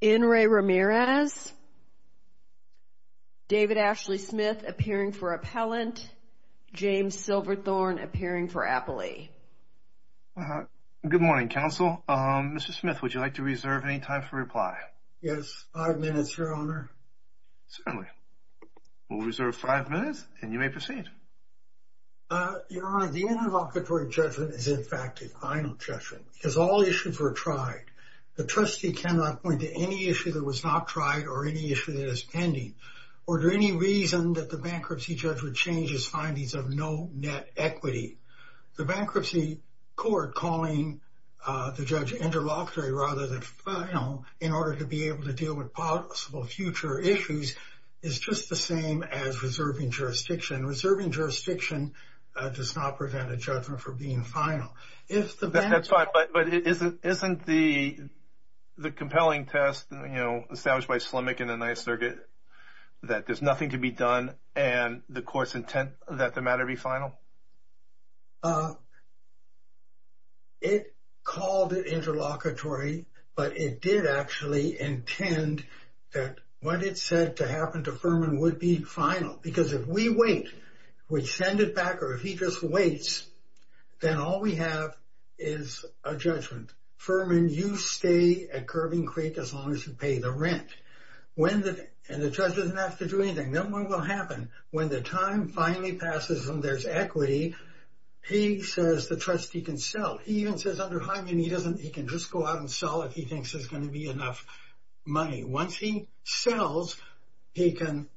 David Ashley Smith appearing for appellant, James Silverthorne appearing for appellee. Good morning, counsel. Mr. Smith, would you like to reserve any time for reply? Yes. Five minutes, Your Honor. Certainly. We'll reserve five minutes, and you may proceed. Your Honor, the interlocutory judgment is, in fact, a final judgment. It's a final judgment. It's a final judgment. As all issues were tried, the trustee cannot point to any issue that was not tried or any issue that is pending, or to any reason that the bankruptcy judge would change his findings of no net equity. The bankruptcy court calling the judge interlocutory rather than final in order to be able to deal with possible future issues is just the same as reserving jurisdiction. Reserving jurisdiction does not prevent a judgment for being final. That's fine, but isn't the compelling test, you know, established by Slemak in the Ninth Circuit, that there's nothing to be done and the court's intent that the matter be final? It called it interlocutory, but it did actually intend that what it said to happen to Furman would be final, because if we wait, we send it back, or if he just waits, then all we have is a judgment. Furman, you stay at Curbing Creek as long as you pay the rent, and the judge doesn't have to do anything. No more will happen. When the time finally passes and there's equity, he says the trustee can sell. He even says under Hyman, he can just go out and sell if he thinks there's going to be enough money. Once he sells, he can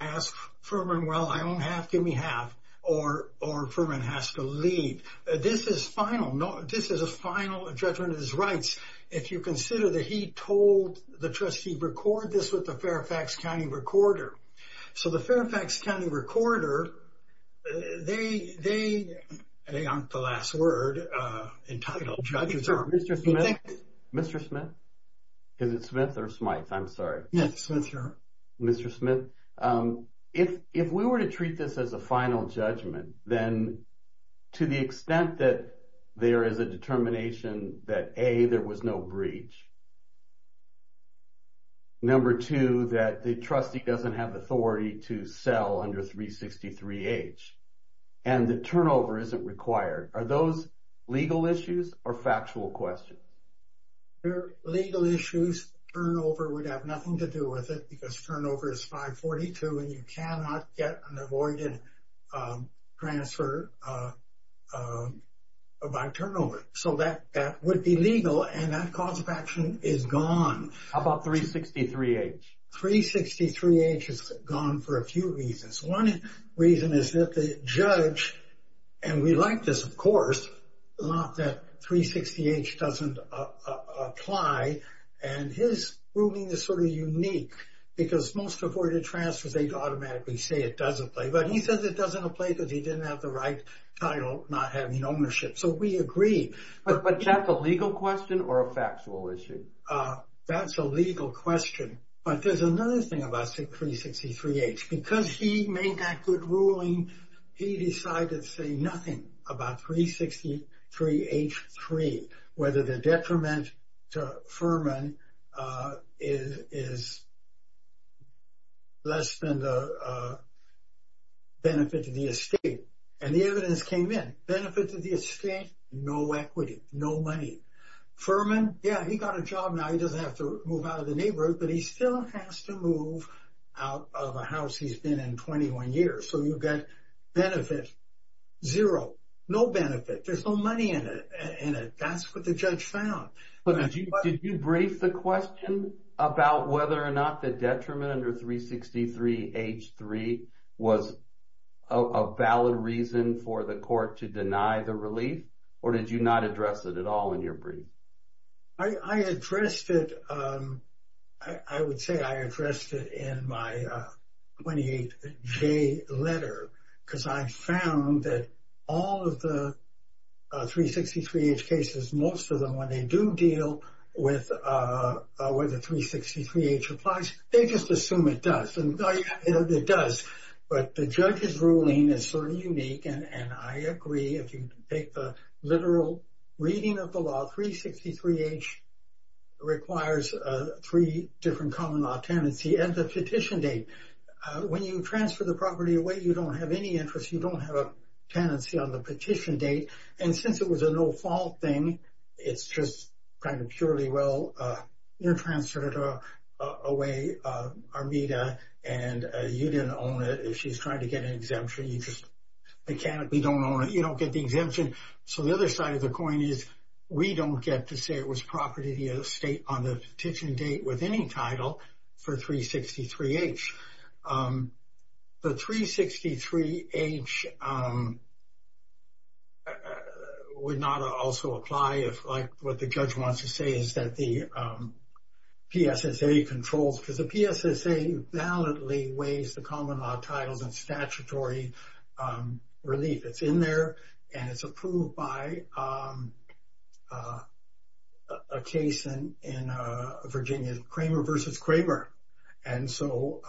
ask Furman, well, I don't have, give me half, or Furman has to leave. This is final. This is a final judgment of his rights. If you consider that he told the trustee, record this with the Fairfax County Recorder. So the Fairfax County Recorder, they aren't the last word entitled. Mr. Smith, is it Smith or Smyth? I'm sorry. Smith, sir. Mr. Smith, if we were to treat this as a final judgment, then to the extent that there is a determination that, A, there was no breach, number two, that the trustee doesn't have authority to sell under 363H, and the turnover isn't required, are those legal issues or factual questions? They're legal issues. Turnover would have nothing to do with it because turnover is 542 and you cannot get an avoided transfer by turnover. So that would be legal and that cause of action is gone. How about 363H? 363H is gone for a few reasons. One reason is that the judge, and we like this, of course, not that 360H doesn't apply, and his ruling is sort of unique because most avoided transfers, they automatically say it doesn't apply. But he says it doesn't apply because he didn't have the right title, not having ownership. So we agree. But that's a legal question or a factual issue? That's a legal question. But there's another thing about 363H. Because he made that good ruling, he decided to say nothing about 363H3, whether the detriment to Furman is less than the benefit to the estate. And the evidence came in. Benefit to the estate, no equity, no money. Furman, yeah, he got a job now. He doesn't have to move out of the neighborhood, but he still has to move out of a house he's been in 21 years. So you've got benefit, zero, no benefit. There's no money in it. That's what the judge found. Did you brief the question about whether or not the detriment under 363H3 was a valid reason for the court to deny the relief? Or did you not address it at all in your brief? I addressed it. I would say I addressed it in my 28J letter. Because I found that all of the 363H cases, most of them, when they do deal with whether 363H applies, they just assume it does. And it does. But the judge's ruling is sort of unique. And I agree. If you take the literal reading of the law, 363H requires three different common law tenancy and the petition date. When you transfer the property away, you don't have any interest. You don't have a tenancy on the petition date. And since it was a no-fault thing, it's just kind of purely, well, you transferred it away, Armita, and you didn't own it. She's trying to get an exemption. You just mechanically don't own it. You don't get the exemption. So the other side of the coin is we don't get to say it was property of the estate on the petition date with any title for 363H. The 363H would not also apply if, like what the judge wants to say, is that the PSSA controls. Because the PSSA validly weighs the common law titles and statutory relief. It's in there, and it's approved by a case in Virginia, Kramer v. Kramer. And so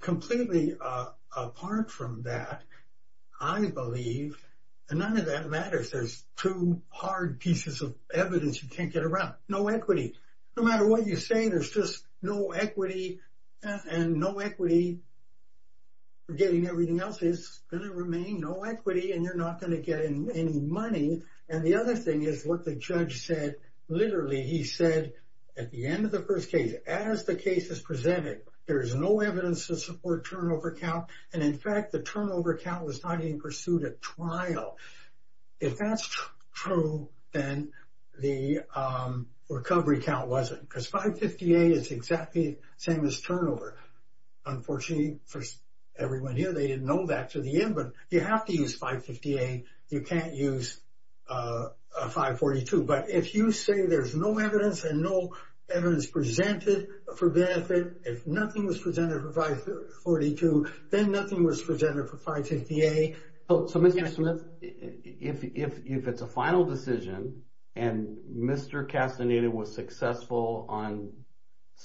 completely apart from that, I believe, and none of that matters. There's two hard pieces of evidence you can't get around. No equity. No matter what you say, there's just no equity, and no equity for getting everything else is going to remain no equity, and you're not going to get any money. And the other thing is what the judge said. Literally, he said at the end of the first case, as the case is presented, there is no evidence to support turnover count. And in fact, the turnover count was not even pursued at trial. If that's true, then the recovery count wasn't, because 550A is exactly the same as turnover. Unfortunately for everyone here, they didn't know that to the end. But you have to use 550A. You can't use 542. But if you say there's no evidence and no evidence presented for benefit, if nothing was presented for 542, then nothing was presented for 550A. So, Mr. Smith, if it's a final decision and Mr. Castaneda was successful on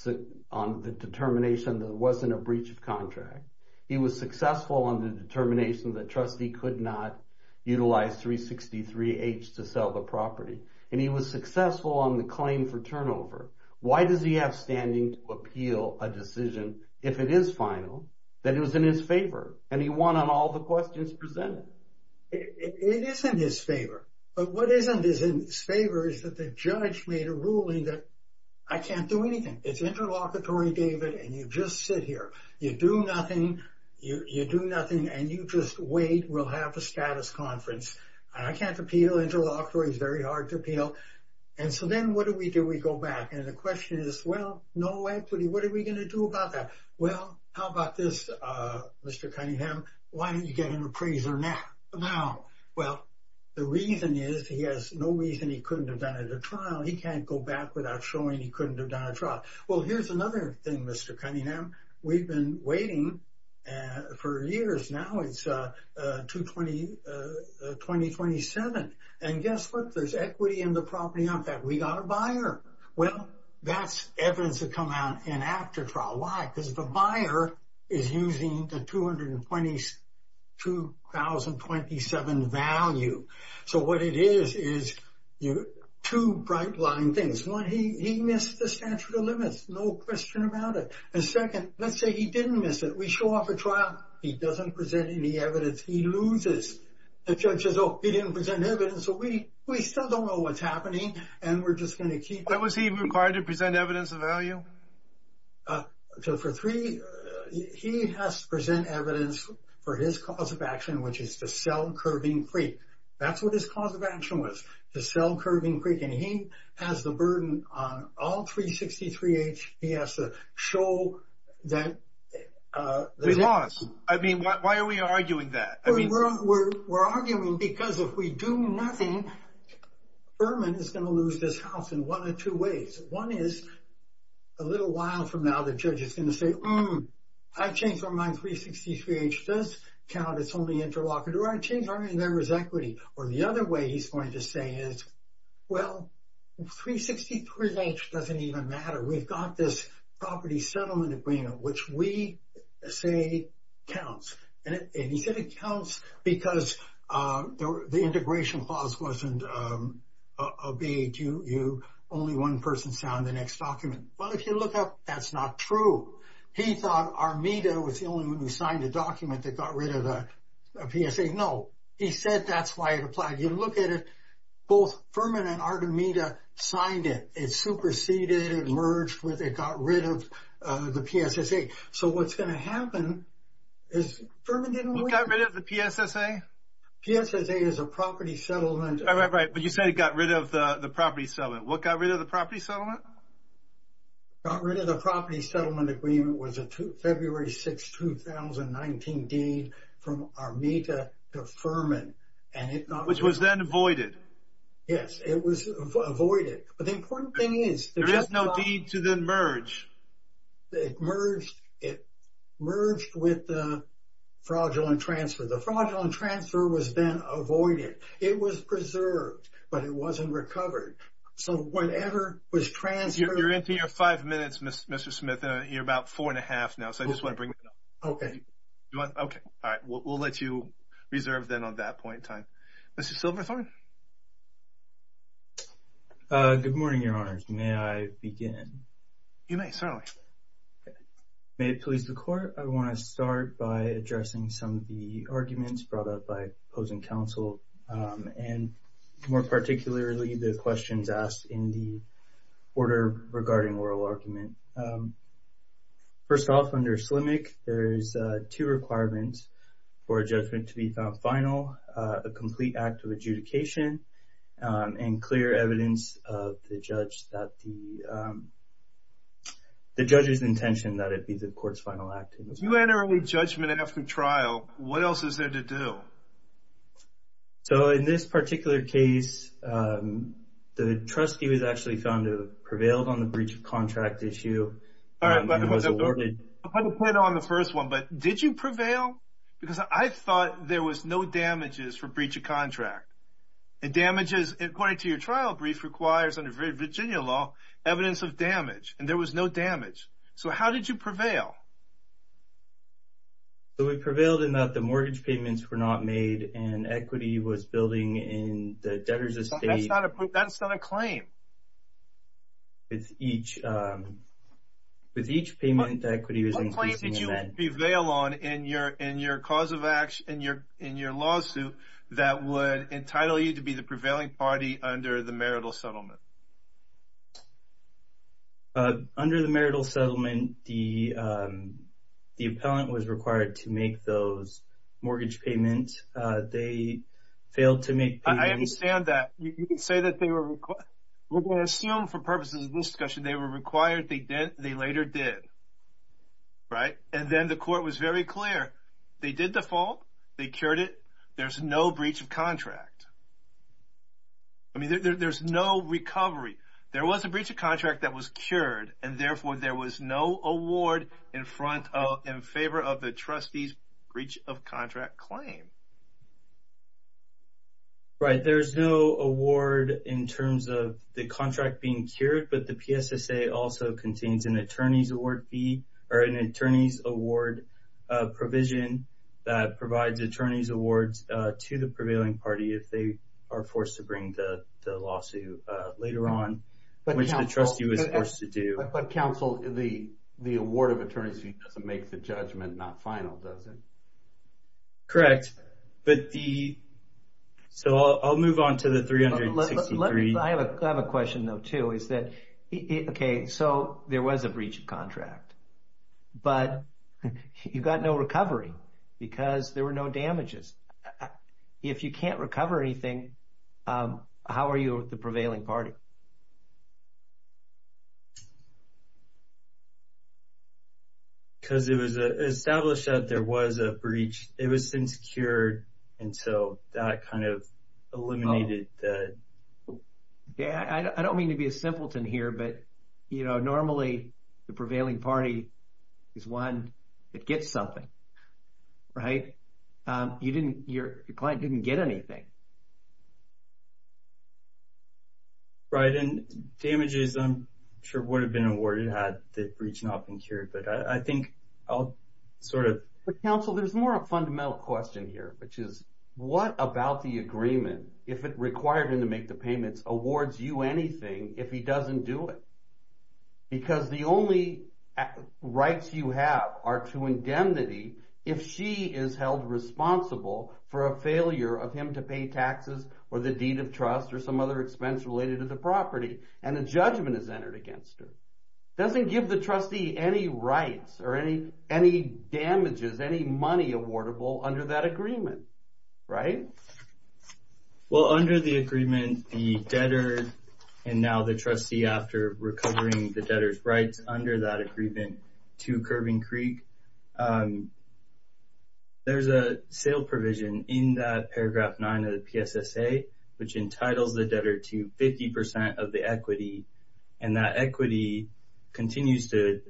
the determination that it wasn't a breach of contract, he was successful on the determination that trustee could not utilize 363H to sell the property, and he was successful on the claim for turnover, why does he have standing to appeal a decision, if it is final, that it was in his favor and he won on all the questions presented? It is in his favor. But what isn't in his favor is that the judge made a ruling that I can't do anything. It's interlocutory, David, and you just sit here. You do nothing. You do nothing, and you just wait. We'll have a status conference. I can't appeal interlocutory. It's very hard to appeal. And so then what do we do? We go back, and the question is, well, no equity. What are we going to do about that? Well, how about this, Mr. Cunningham? Why don't you get an appraiser now? Well, the reason is he has no reason he couldn't have done it at trial. He can't go back without showing he couldn't have done a trial. Well, here's another thing, Mr. Cunningham. We've been waiting for years now. It's 2027. And guess what? There's equity in the property on that. We got a buyer. Well, that's evidence that come out in after trial. Because the buyer is using the 2027 value. So what it is is two bright line things. One, he missed the statute of limits, no question about it. And second, let's say he didn't miss it. We show off a trial. He doesn't present any evidence. He loses. The judge says, oh, he didn't present evidence. So we still don't know what's happening. And we're just going to keep going. Was he required to present evidence of value? So for three, he has to present evidence for his cause of action, which is to sell Curving Creek. That's what his cause of action was, to sell Curving Creek. And he has the burden on all 363-H. He has to show that. We lost. I mean, why are we arguing that? We're arguing because if we do nothing, Berman is going to lose this house in one of two ways. One is, a little while from now, the judge is going to say, I changed my mind. 363-H does count. It's only interlocutor. I changed my mind. There was equity. Or the other way he's going to say is, well, 363-H doesn't even matter. We've got this property settlement agreement, which we say counts. And he said it counts because the integration clause wasn't obeyed. Only one person signed the next document. Well, if you look up, that's not true. He thought Armida was the only one who signed a document that got rid of the PSSA. No. He said that's why it applied. You look at it, both Berman and Armida signed it. It superseded. It merged with. It got rid of the PSSA. So what's going to happen is Berman didn't win. What got rid of the PSSA? PSSA is a property settlement. Right, but you said it got rid of the property settlement. What got rid of the property settlement? What got rid of the property settlement agreement was a February 6, 2019 deed from Armida to Berman. Which was then voided. Yes, it was voided. But the important thing is. There is no deed to then merge. It merged with the fraudulent transfer. The fraudulent transfer was then avoided. It was preserved, but it wasn't recovered. So whatever was transferred. You're into your five minutes, Mr. Smith. You're about four and a half now, so I just want to bring it up. Okay. Okay, all right. We'll let you reserve then on that point in time. Mr. Silverthorne. Good morning, Your Honors. May I begin? You may, certainly. May it please the Court. I want to start by addressing some of the arguments brought up by opposing counsel. And more particularly the questions asked in the order regarding oral argument. First off, under SLMIC, there's two requirements for a judgment to be found final. A complete act of adjudication and clear evidence of the judge that the judge's intention that it be the court's final act. If you had an early judgment after trial, what else is there to do? So in this particular case, the trustee was actually found to have prevailed on the breach of contract issue and was awarded. All right. I'll put it on the first one. But did you prevail? Because I thought there was no damages for breach of contract. And damages, according to your trial brief, requires under Virginia law evidence of damage. And there was no damage. So how did you prevail? We prevailed in that the mortgage payments were not made and equity was building in the debtor's estate. That's not a claim. With each payment, equity was increasing. What claim did you prevail on in your cause of action, in your lawsuit, that would entitle you to be the prevailing party under the marital settlement? Under the marital settlement, the appellant was required to make those mortgage payments. They failed to make payments. I understand that. You can say that they were required. We're going to assume for purposes of this discussion they were required. They later did. Right? And then the court was very clear. They did the fault. They cured it. There's no breach of contract. I mean, there's no recovery. There was a breach of contract that was cured. And, therefore, there was no award in favor of the trustee's breach of contract claim. Right. There's no award in terms of the contract being cured. But the PSSA also contains an attorney's award fee or an attorney's award provision that provides attorney's awards to the prevailing party, if they are forced to bring the lawsuit later on, which the trustee was forced to do. But, counsel, the award of attorney's fee doesn't make the judgment not final, does it? Correct. So I'll move on to the 363. I have a question, though, too. Okay, so there was a breach of contract. But you got no recovery because there were no damages. If you can't recover anything, how are you with the prevailing party? Because it was established that there was a breach. It was since cured, and so that kind of eliminated that. Yeah, I don't mean to be a simpleton here, but, you know, normally the prevailing party is one that gets something, right? Your client didn't get anything. Right, and damages, I'm sure, would have been awarded had the breach not been cured. But I think I'll sort of – But, counsel, there's more a fundamental question here, which is what about the agreement, if it required him to make the payments, awards you anything if he doesn't do it? Because the only rights you have are to indemnity if she is held responsible for a failure of him to pay taxes or the deed of trust or some other expense related to the property, and a judgment is entered against her. It doesn't give the trustee any rights or any damages, any money awardable under that agreement, right? Well, under the agreement, the debtor and now the trustee, after recovering the debtor's rights under that agreement, to Kerbin Creek, there's a sale provision in that paragraph 9 of the PSSA, which entitles the debtor to 50% of the equity, and that equity continues to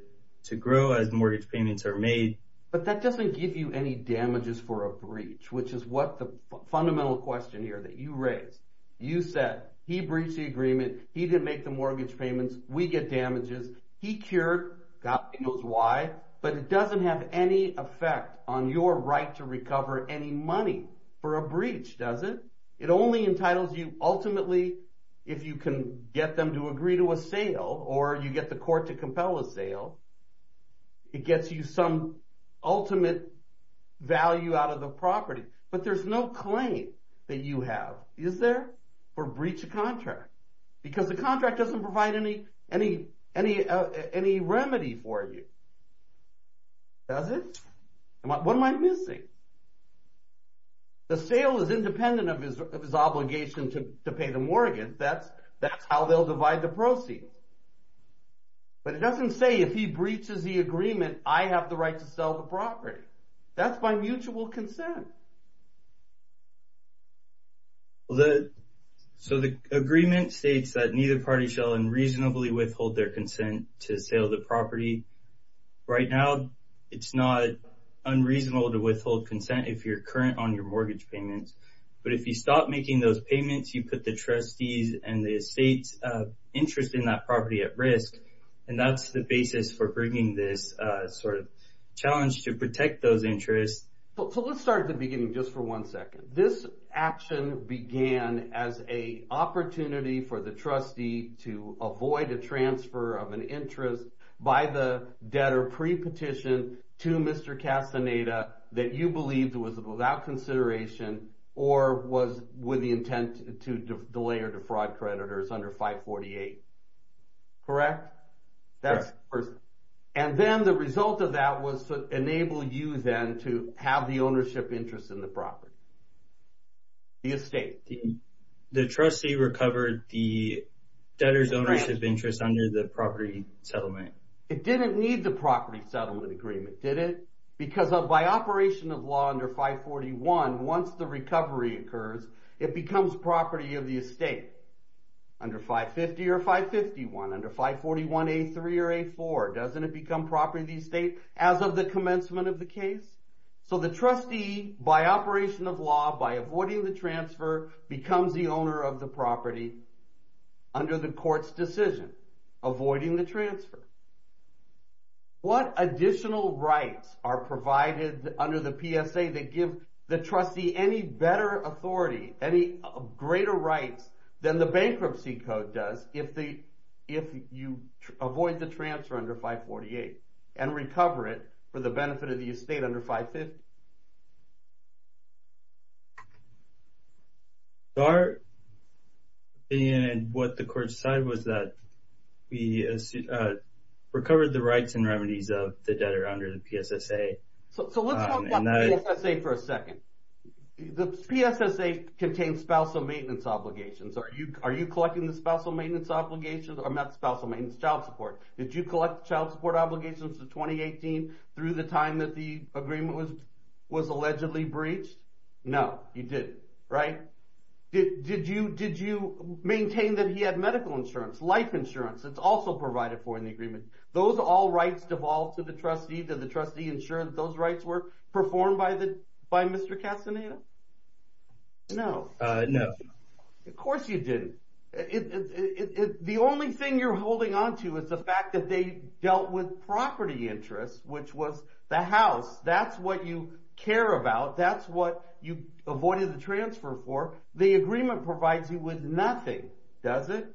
grow as mortgage payments are made. But that doesn't give you any damages for a breach, which is what the fundamental question here that you raised. You said he breached the agreement, he didn't make the mortgage payments, we get damages, he cured, God knows why, but it doesn't have any effect on your right to recover any money for a breach, does it? It only entitles you, ultimately, if you can get them to agree to a sale or you get the court to compel a sale, it gets you some ultimate value out of the property. But there's no claim that you have, is there, for breach of contract? Because the contract doesn't provide any remedy for you, does it? What am I missing? The sale is independent of his obligation to pay the mortgage, that's how they'll divide the proceeds. But it doesn't say if he breaches the agreement, I have the right to sell the property. That's by mutual consent. So the agreement states that neither party shall unreasonably withhold their consent to sale the property. Right now, it's not unreasonable to withhold consent if you're current on your mortgage payments. But if you stop making those payments, you put the trustees and the estate's interest in that property at risk, and that's the basis for bringing this sort of challenge to protect those interests. So let's start at the beginning just for one second. This action began as an opportunity for the trustee to avoid a transfer of an interest by the debtor pre-petition to Mr. Castaneda that you believed was without consideration or was with the intent to delay or defraud creditors under 548. Correct? Correct. And then the result of that was to enable you then to have the ownership interest in the property, the estate. The trustee recovered the debtor's ownership interest under the property settlement. It didn't need the property settlement agreement, did it? Because by operation of law under 541, once the recovery occurs, it becomes property of the estate. Under 550 or 551, under 541A3 or A4, doesn't it become property of the estate as of the commencement of the case? So the trustee, by operation of law, by avoiding the transfer, becomes the owner of the property under the court's decision, avoiding the transfer. What additional rights are provided under the PSA that give the trustee any better authority, any greater rights than the bankruptcy code does if you avoid the transfer under 548 and recover it for the benefit of the estate under 550? And what the court decided was that we recovered the rights and remedies of the debtor under the PSSA. So let's talk about PSSA for a second. The PSSA contains spousal maintenance obligations. Are you collecting the spousal maintenance obligations or not the spousal maintenance? Child support. Did you collect child support obligations in 2018 through the time that the agreement was allegedly breached? No, you didn't, right? Did you maintain that he had medical insurance, life insurance that's also provided for in the agreement? Those are all rights devolved to the trustee. Did you ensure that those rights were performed by Mr. Castaneda? No. No. Of course you didn't. The only thing you're holding onto is the fact that they dealt with property interests, which was the house. That's what you care about. That's what you avoided the transfer for. The agreement provides you with nothing, does it?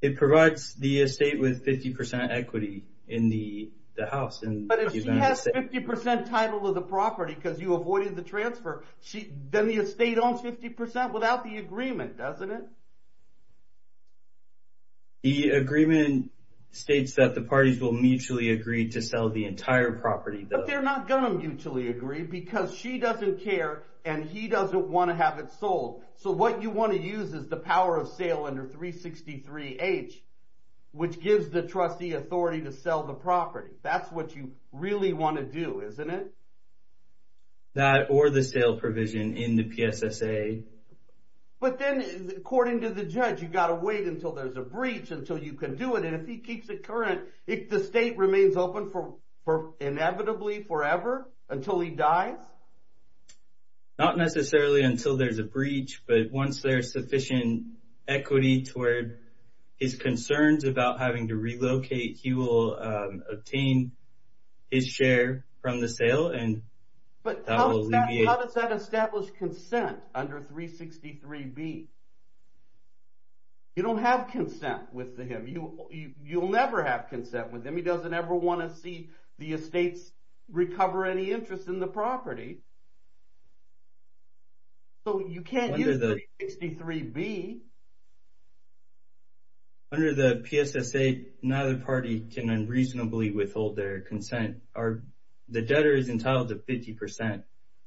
It provides the estate with 50% equity in the house. But if she has 50% title of the property because you avoided the transfer, then the estate owns 50% without the agreement, doesn't it? The agreement states that the parties will mutually agree to sell the entire property. But they're not going to mutually agree because she doesn't care and he doesn't want to have it sold. So what you want to use is the power of sale under 363H, which gives the trustee authority to sell the property. That's what you really want to do, isn't it? That or the sale provision in the PSSA. But then, according to the judge, you've got to wait until there's a breach until you can do it. And if he keeps it current, if the estate remains open for inevitably forever, until he dies? Not necessarily until there's a breach, but once there's sufficient equity toward his concerns about having to relocate, he will obtain his share from the sale and that will alleviate. But how does that establish consent under 363B? You don't have consent with him. You'll never have consent with him. He doesn't ever want to see the estates recover any interest in the property. So you can't use 363B. Under the PSSA, neither party can unreasonably withhold their consent. The debtor is entitled to 50%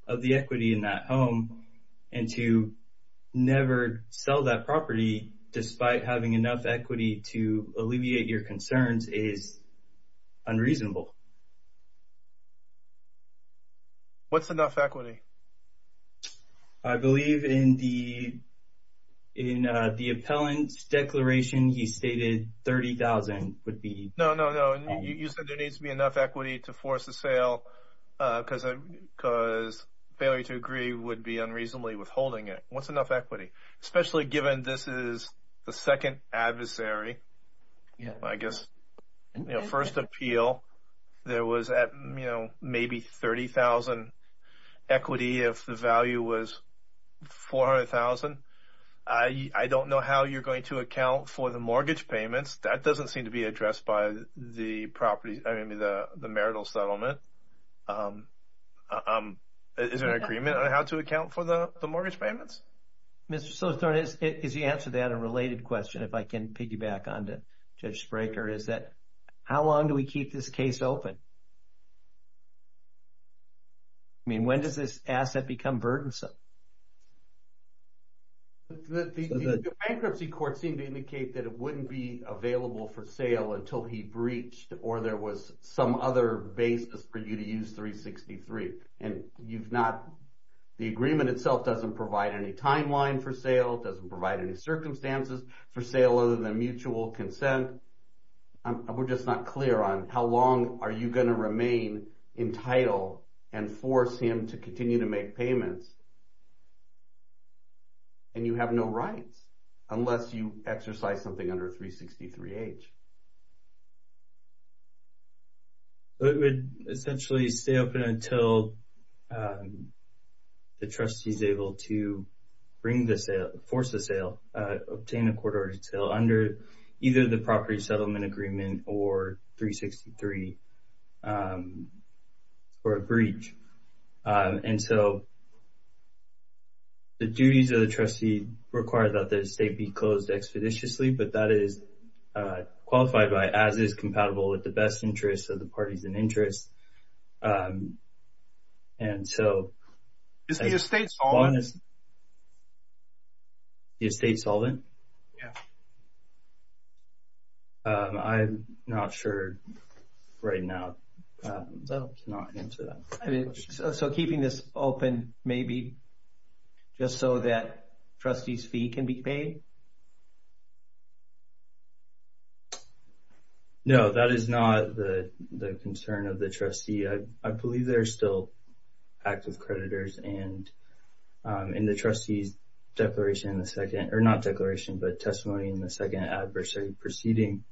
of the equity in that home. And to never sell that property despite having enough equity to alleviate your concerns is unreasonable. What's enough equity? I believe in the appellant's declaration, he stated $30,000 would be... No, no, no. You said there needs to be enough equity to force the sale because failure to agree would be unreasonably withholding it. What's enough equity? Especially given this is the second adversary, I guess, first appeal, there was maybe $30,000 equity if the value was $400,000. I don't know how you're going to account for the mortgage payments. That doesn't seem to be addressed by the property, I mean, the marital settlement. Is there an agreement on how to account for the mortgage payments? Mr. Southern, is the answer to that a related question if I can piggyback on to Judge Spraker? Is that how long do we keep this case open? I mean, when does this asset become burdensome? The bankruptcy court seemed to indicate that it wouldn't be available for sale until he breached or there was some other basis for you to use 363. The agreement itself doesn't provide any timeline for sale, doesn't provide any circumstances for sale other than mutual consent. We're just not clear on how long are you going to remain entitled and force him to continue to make payments. And you have no rights unless you exercise something under 363H. It would essentially stay open until the trustee is able to bring the sale, force the sale, obtain a court-ordered sale under either the property settlement agreement or 363 for a breach. And so the duties of the trustee require that the estate be closed expeditiously, but that is qualified by, as is compatible with the best interests of the parties in interest. Is the estate solvent? The estate solvent? Yeah. I'm not sure right now. So keeping this open maybe just so that trustee's fee can be paid? No, that is not the concern of the trustee. I believe there are still active creditors and in the trustee's declaration in the second, or not declaration, but testimony in the second adversary proceeding.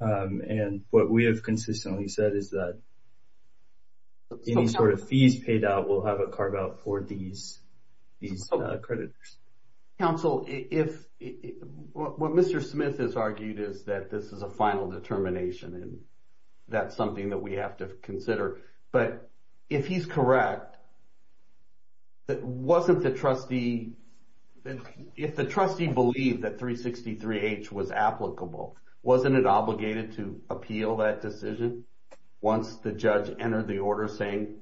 And what we have consistently said is that any sort of fees paid out will have a carve out for these creditors. Counsel, what Mr. Smith has argued is that this is a final determination and that's something that we have to consider. But if he's correct, wasn't the trustee, if the trustee believed that 363H was applicable, wasn't it obligated to appeal that decision once the judge entered the order saying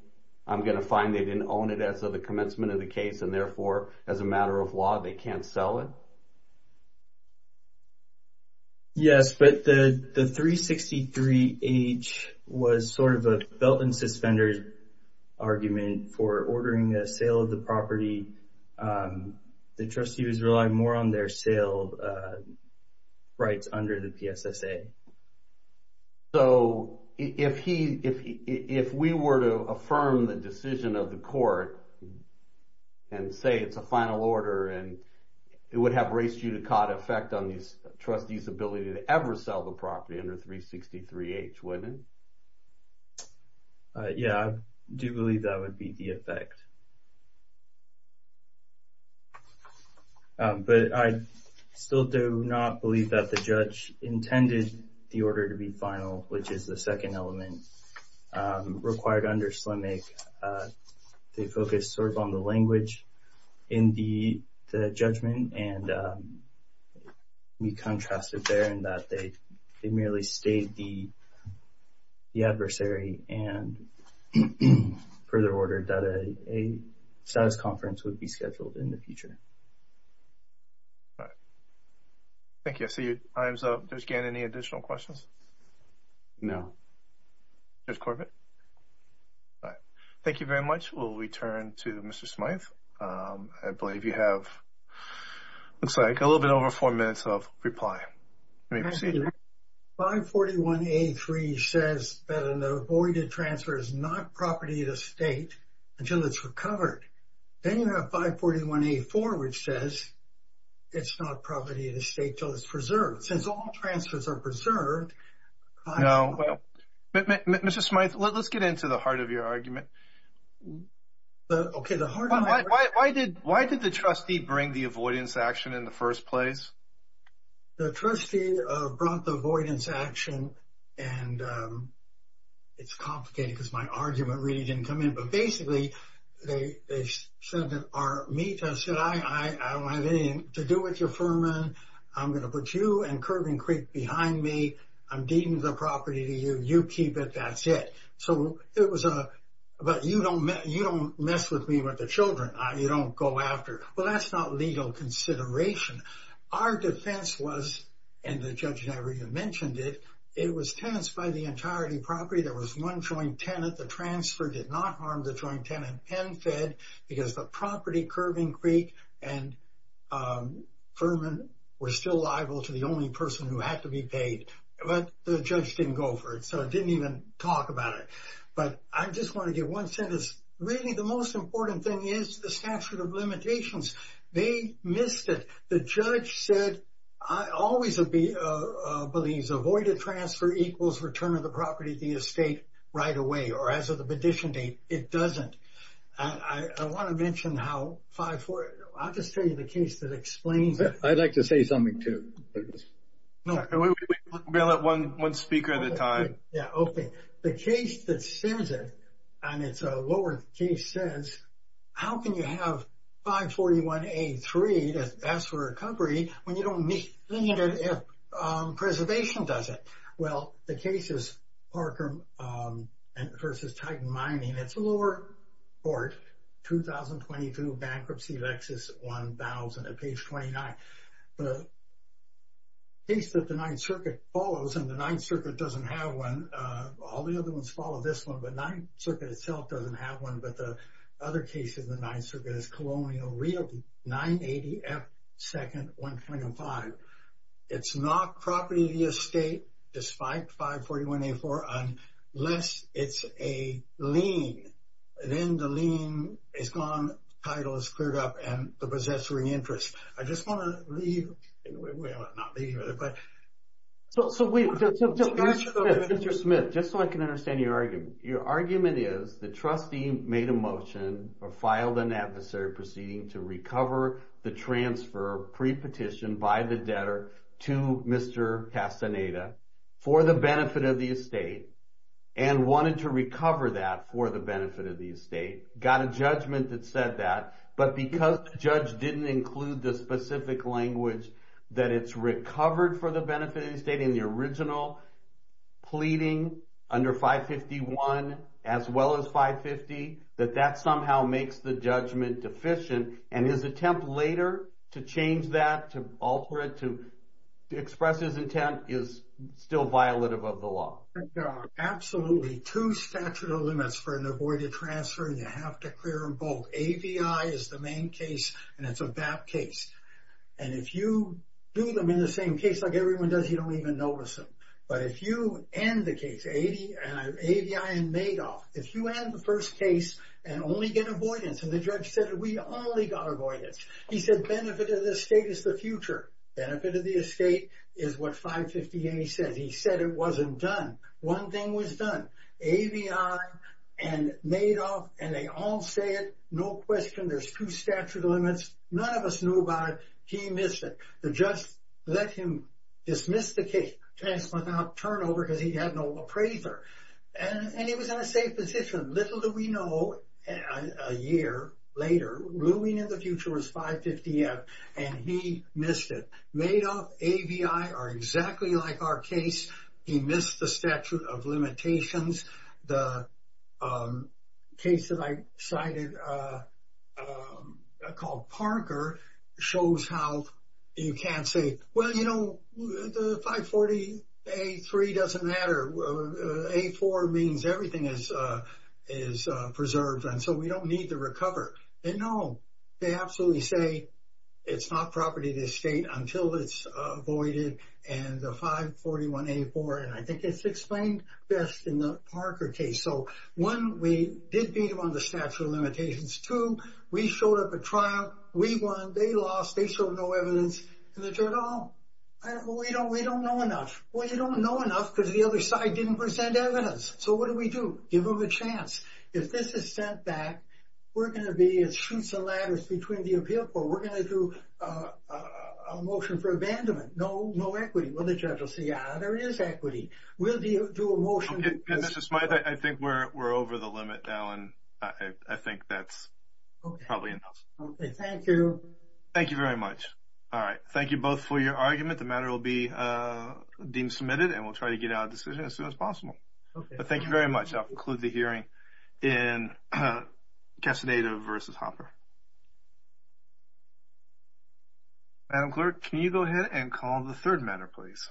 I'm going to find they didn't own it as of the commencement of the case and therefore as a matter of law they can't sell it? Yes, but the 363H was sort of a belt and suspenders argument for ordering a sale of the property. The trustee was relying more on their sale rights under the PSSA. So if we were to affirm the decision of the court and say it's a final order and it would have race judicata effect on the trustee's ability to ever sell the property under 363H, wouldn't it? Yeah, I do believe that would be the effect. But I still do not believe that the judge intended the order to be final, which is the second element required under SLMIC. They focused sort of on the language in the judgment and we contrasted there in that they merely stayed the adversary and further ordered that a status conference would be scheduled in the future. Thank you, I see your time's up. Judge Gannon, any additional questions? No. Judge Corbett? No. Thank you very much. We'll return to Mr. Smyth. I believe you have, looks like, a little bit over four minutes of reply. 541A3 says that an avoided transfer is not property of the state until it's recovered. Then you have 541A4 which says it's not property of the state until it's preserved. Since all transfers are preserved... Mr. Smyth, let's get into the heart of your argument. Why did the trustee bring the avoidance action in the first place? The trustee brought the avoidance action and it's complicated because my argument really didn't come in. Basically, they said to me, I said, I don't have anything to do with your firm. I'm going to put you and Curban Creek behind me. I'm deeming the property to you. You keep it. That's it. So, it was a, but you don't mess with me with the children. You don't go after. Well, that's not legal consideration. Our defense was, and the judge never even mentioned it, it was tenants by the entirety of the property. There was one joint tenant. The transfer did not harm the joint tenant and fed because the property, Curban Creek, and Furman were still liable to the only person who had to be paid. But the judge didn't go for it. So, I didn't even talk about it. But I just want to give one sentence. Really, the most important thing is the statute of limitations. They missed it. The judge said, I always believe avoided transfer equals return of the property to the estate right away. Or as of the petition date, it doesn't. I want to mention how 540, I'll just tell you the case that explains it. I'd like to say something too. We'll let one speaker at a time. Yeah, okay. The case that says it, and it's a lower case, says, how can you have 541A3 that asks for recovery when you don't need it if preservation does it? Well, the case is Parker v. Titan Mining. It's a lower court, 2022 Bankruptcy Lexus 1000 at page 29. The case that the Ninth Circuit follows, and the Ninth Circuit doesn't have one. All the other ones follow this one, but the Ninth Circuit itself doesn't have one. But the other case of the Ninth Circuit is Colonial Realty 980F2-125. It's not property to the estate, despite 541A4, unless it's a lien. Then the lien is gone, title is cleared up, and the possessory interest. I just want to leave. Well, not leave, but. So, wait. Mr. Smith, just so I can understand your argument. Your argument is the trustee made a motion or filed an adversary proceeding to recover the transfer pre-petitioned by the debtor to Mr. Castaneda for the benefit of the estate and wanted to recover that for the benefit of the estate. Got a judgment that said that. But because the judge didn't include the specific language that it's recovered for the benefit of the estate in the original pleading under 551, as well as 550, that that somehow makes the judgment deficient. And his attempt later to change that, to alter it, to express his intent is still violative of the law. There are absolutely two statute of limits for an avoided transfer, and you have to clear them both. AVI is the main case, and it's a BAP case. And if you do them in the same case like everyone does, you don't even notice them. But if you end the case, AVI and Madoff, if you end the first case and only get avoidance, and the judge said we only got avoidance. He said benefit of the estate is the future. Benefit of the estate is what 550A says. He said it wasn't done. One thing was done. AVI and Madoff, and they all say it, no question. There's two statute of limits. None of us knew about it. He missed it. The judge let him dismiss the case without turnover because he had no appraiser. And he was in a safe position. Little do we know, a year later, ruling in the future was 550F, and he missed it. Madoff, AVI are exactly like our case. He missed the statute of limitations. The case that I cited called Parker shows how you can't say, well, you know, the 540A3 doesn't matter. A4 means everything is preserved, and so we don't need to recover. And, no, they absolutely say it's not property of the estate until it's avoided, and the 541A4, and I think it's explained best in the Parker case. So, one, we did beat them on the statute of limitations. Two, we showed up at trial. We won. They lost. They showed no evidence. And the judge, oh, we don't know enough. Well, you don't know enough because the other side didn't present evidence. So what do we do? Give them a chance. If this is sent back, we're going to be as sheets and ladders between the appeal court. We're going to do a motion for abandonment. No equity. Well, the judge will say, ah, there is equity. We'll do a motion. Mr. Smythe, I think we're over the limit now, and I think that's probably enough. Okay, thank you. Thank you very much. All right. Thank you both for your argument. The matter will be deemed submitted, and we'll try to get it out of decision as soon as possible. But thank you very much. I'll conclude the hearing in Castaneda v. Hopper. Madam Clerk, can you go ahead and call the third matter, please?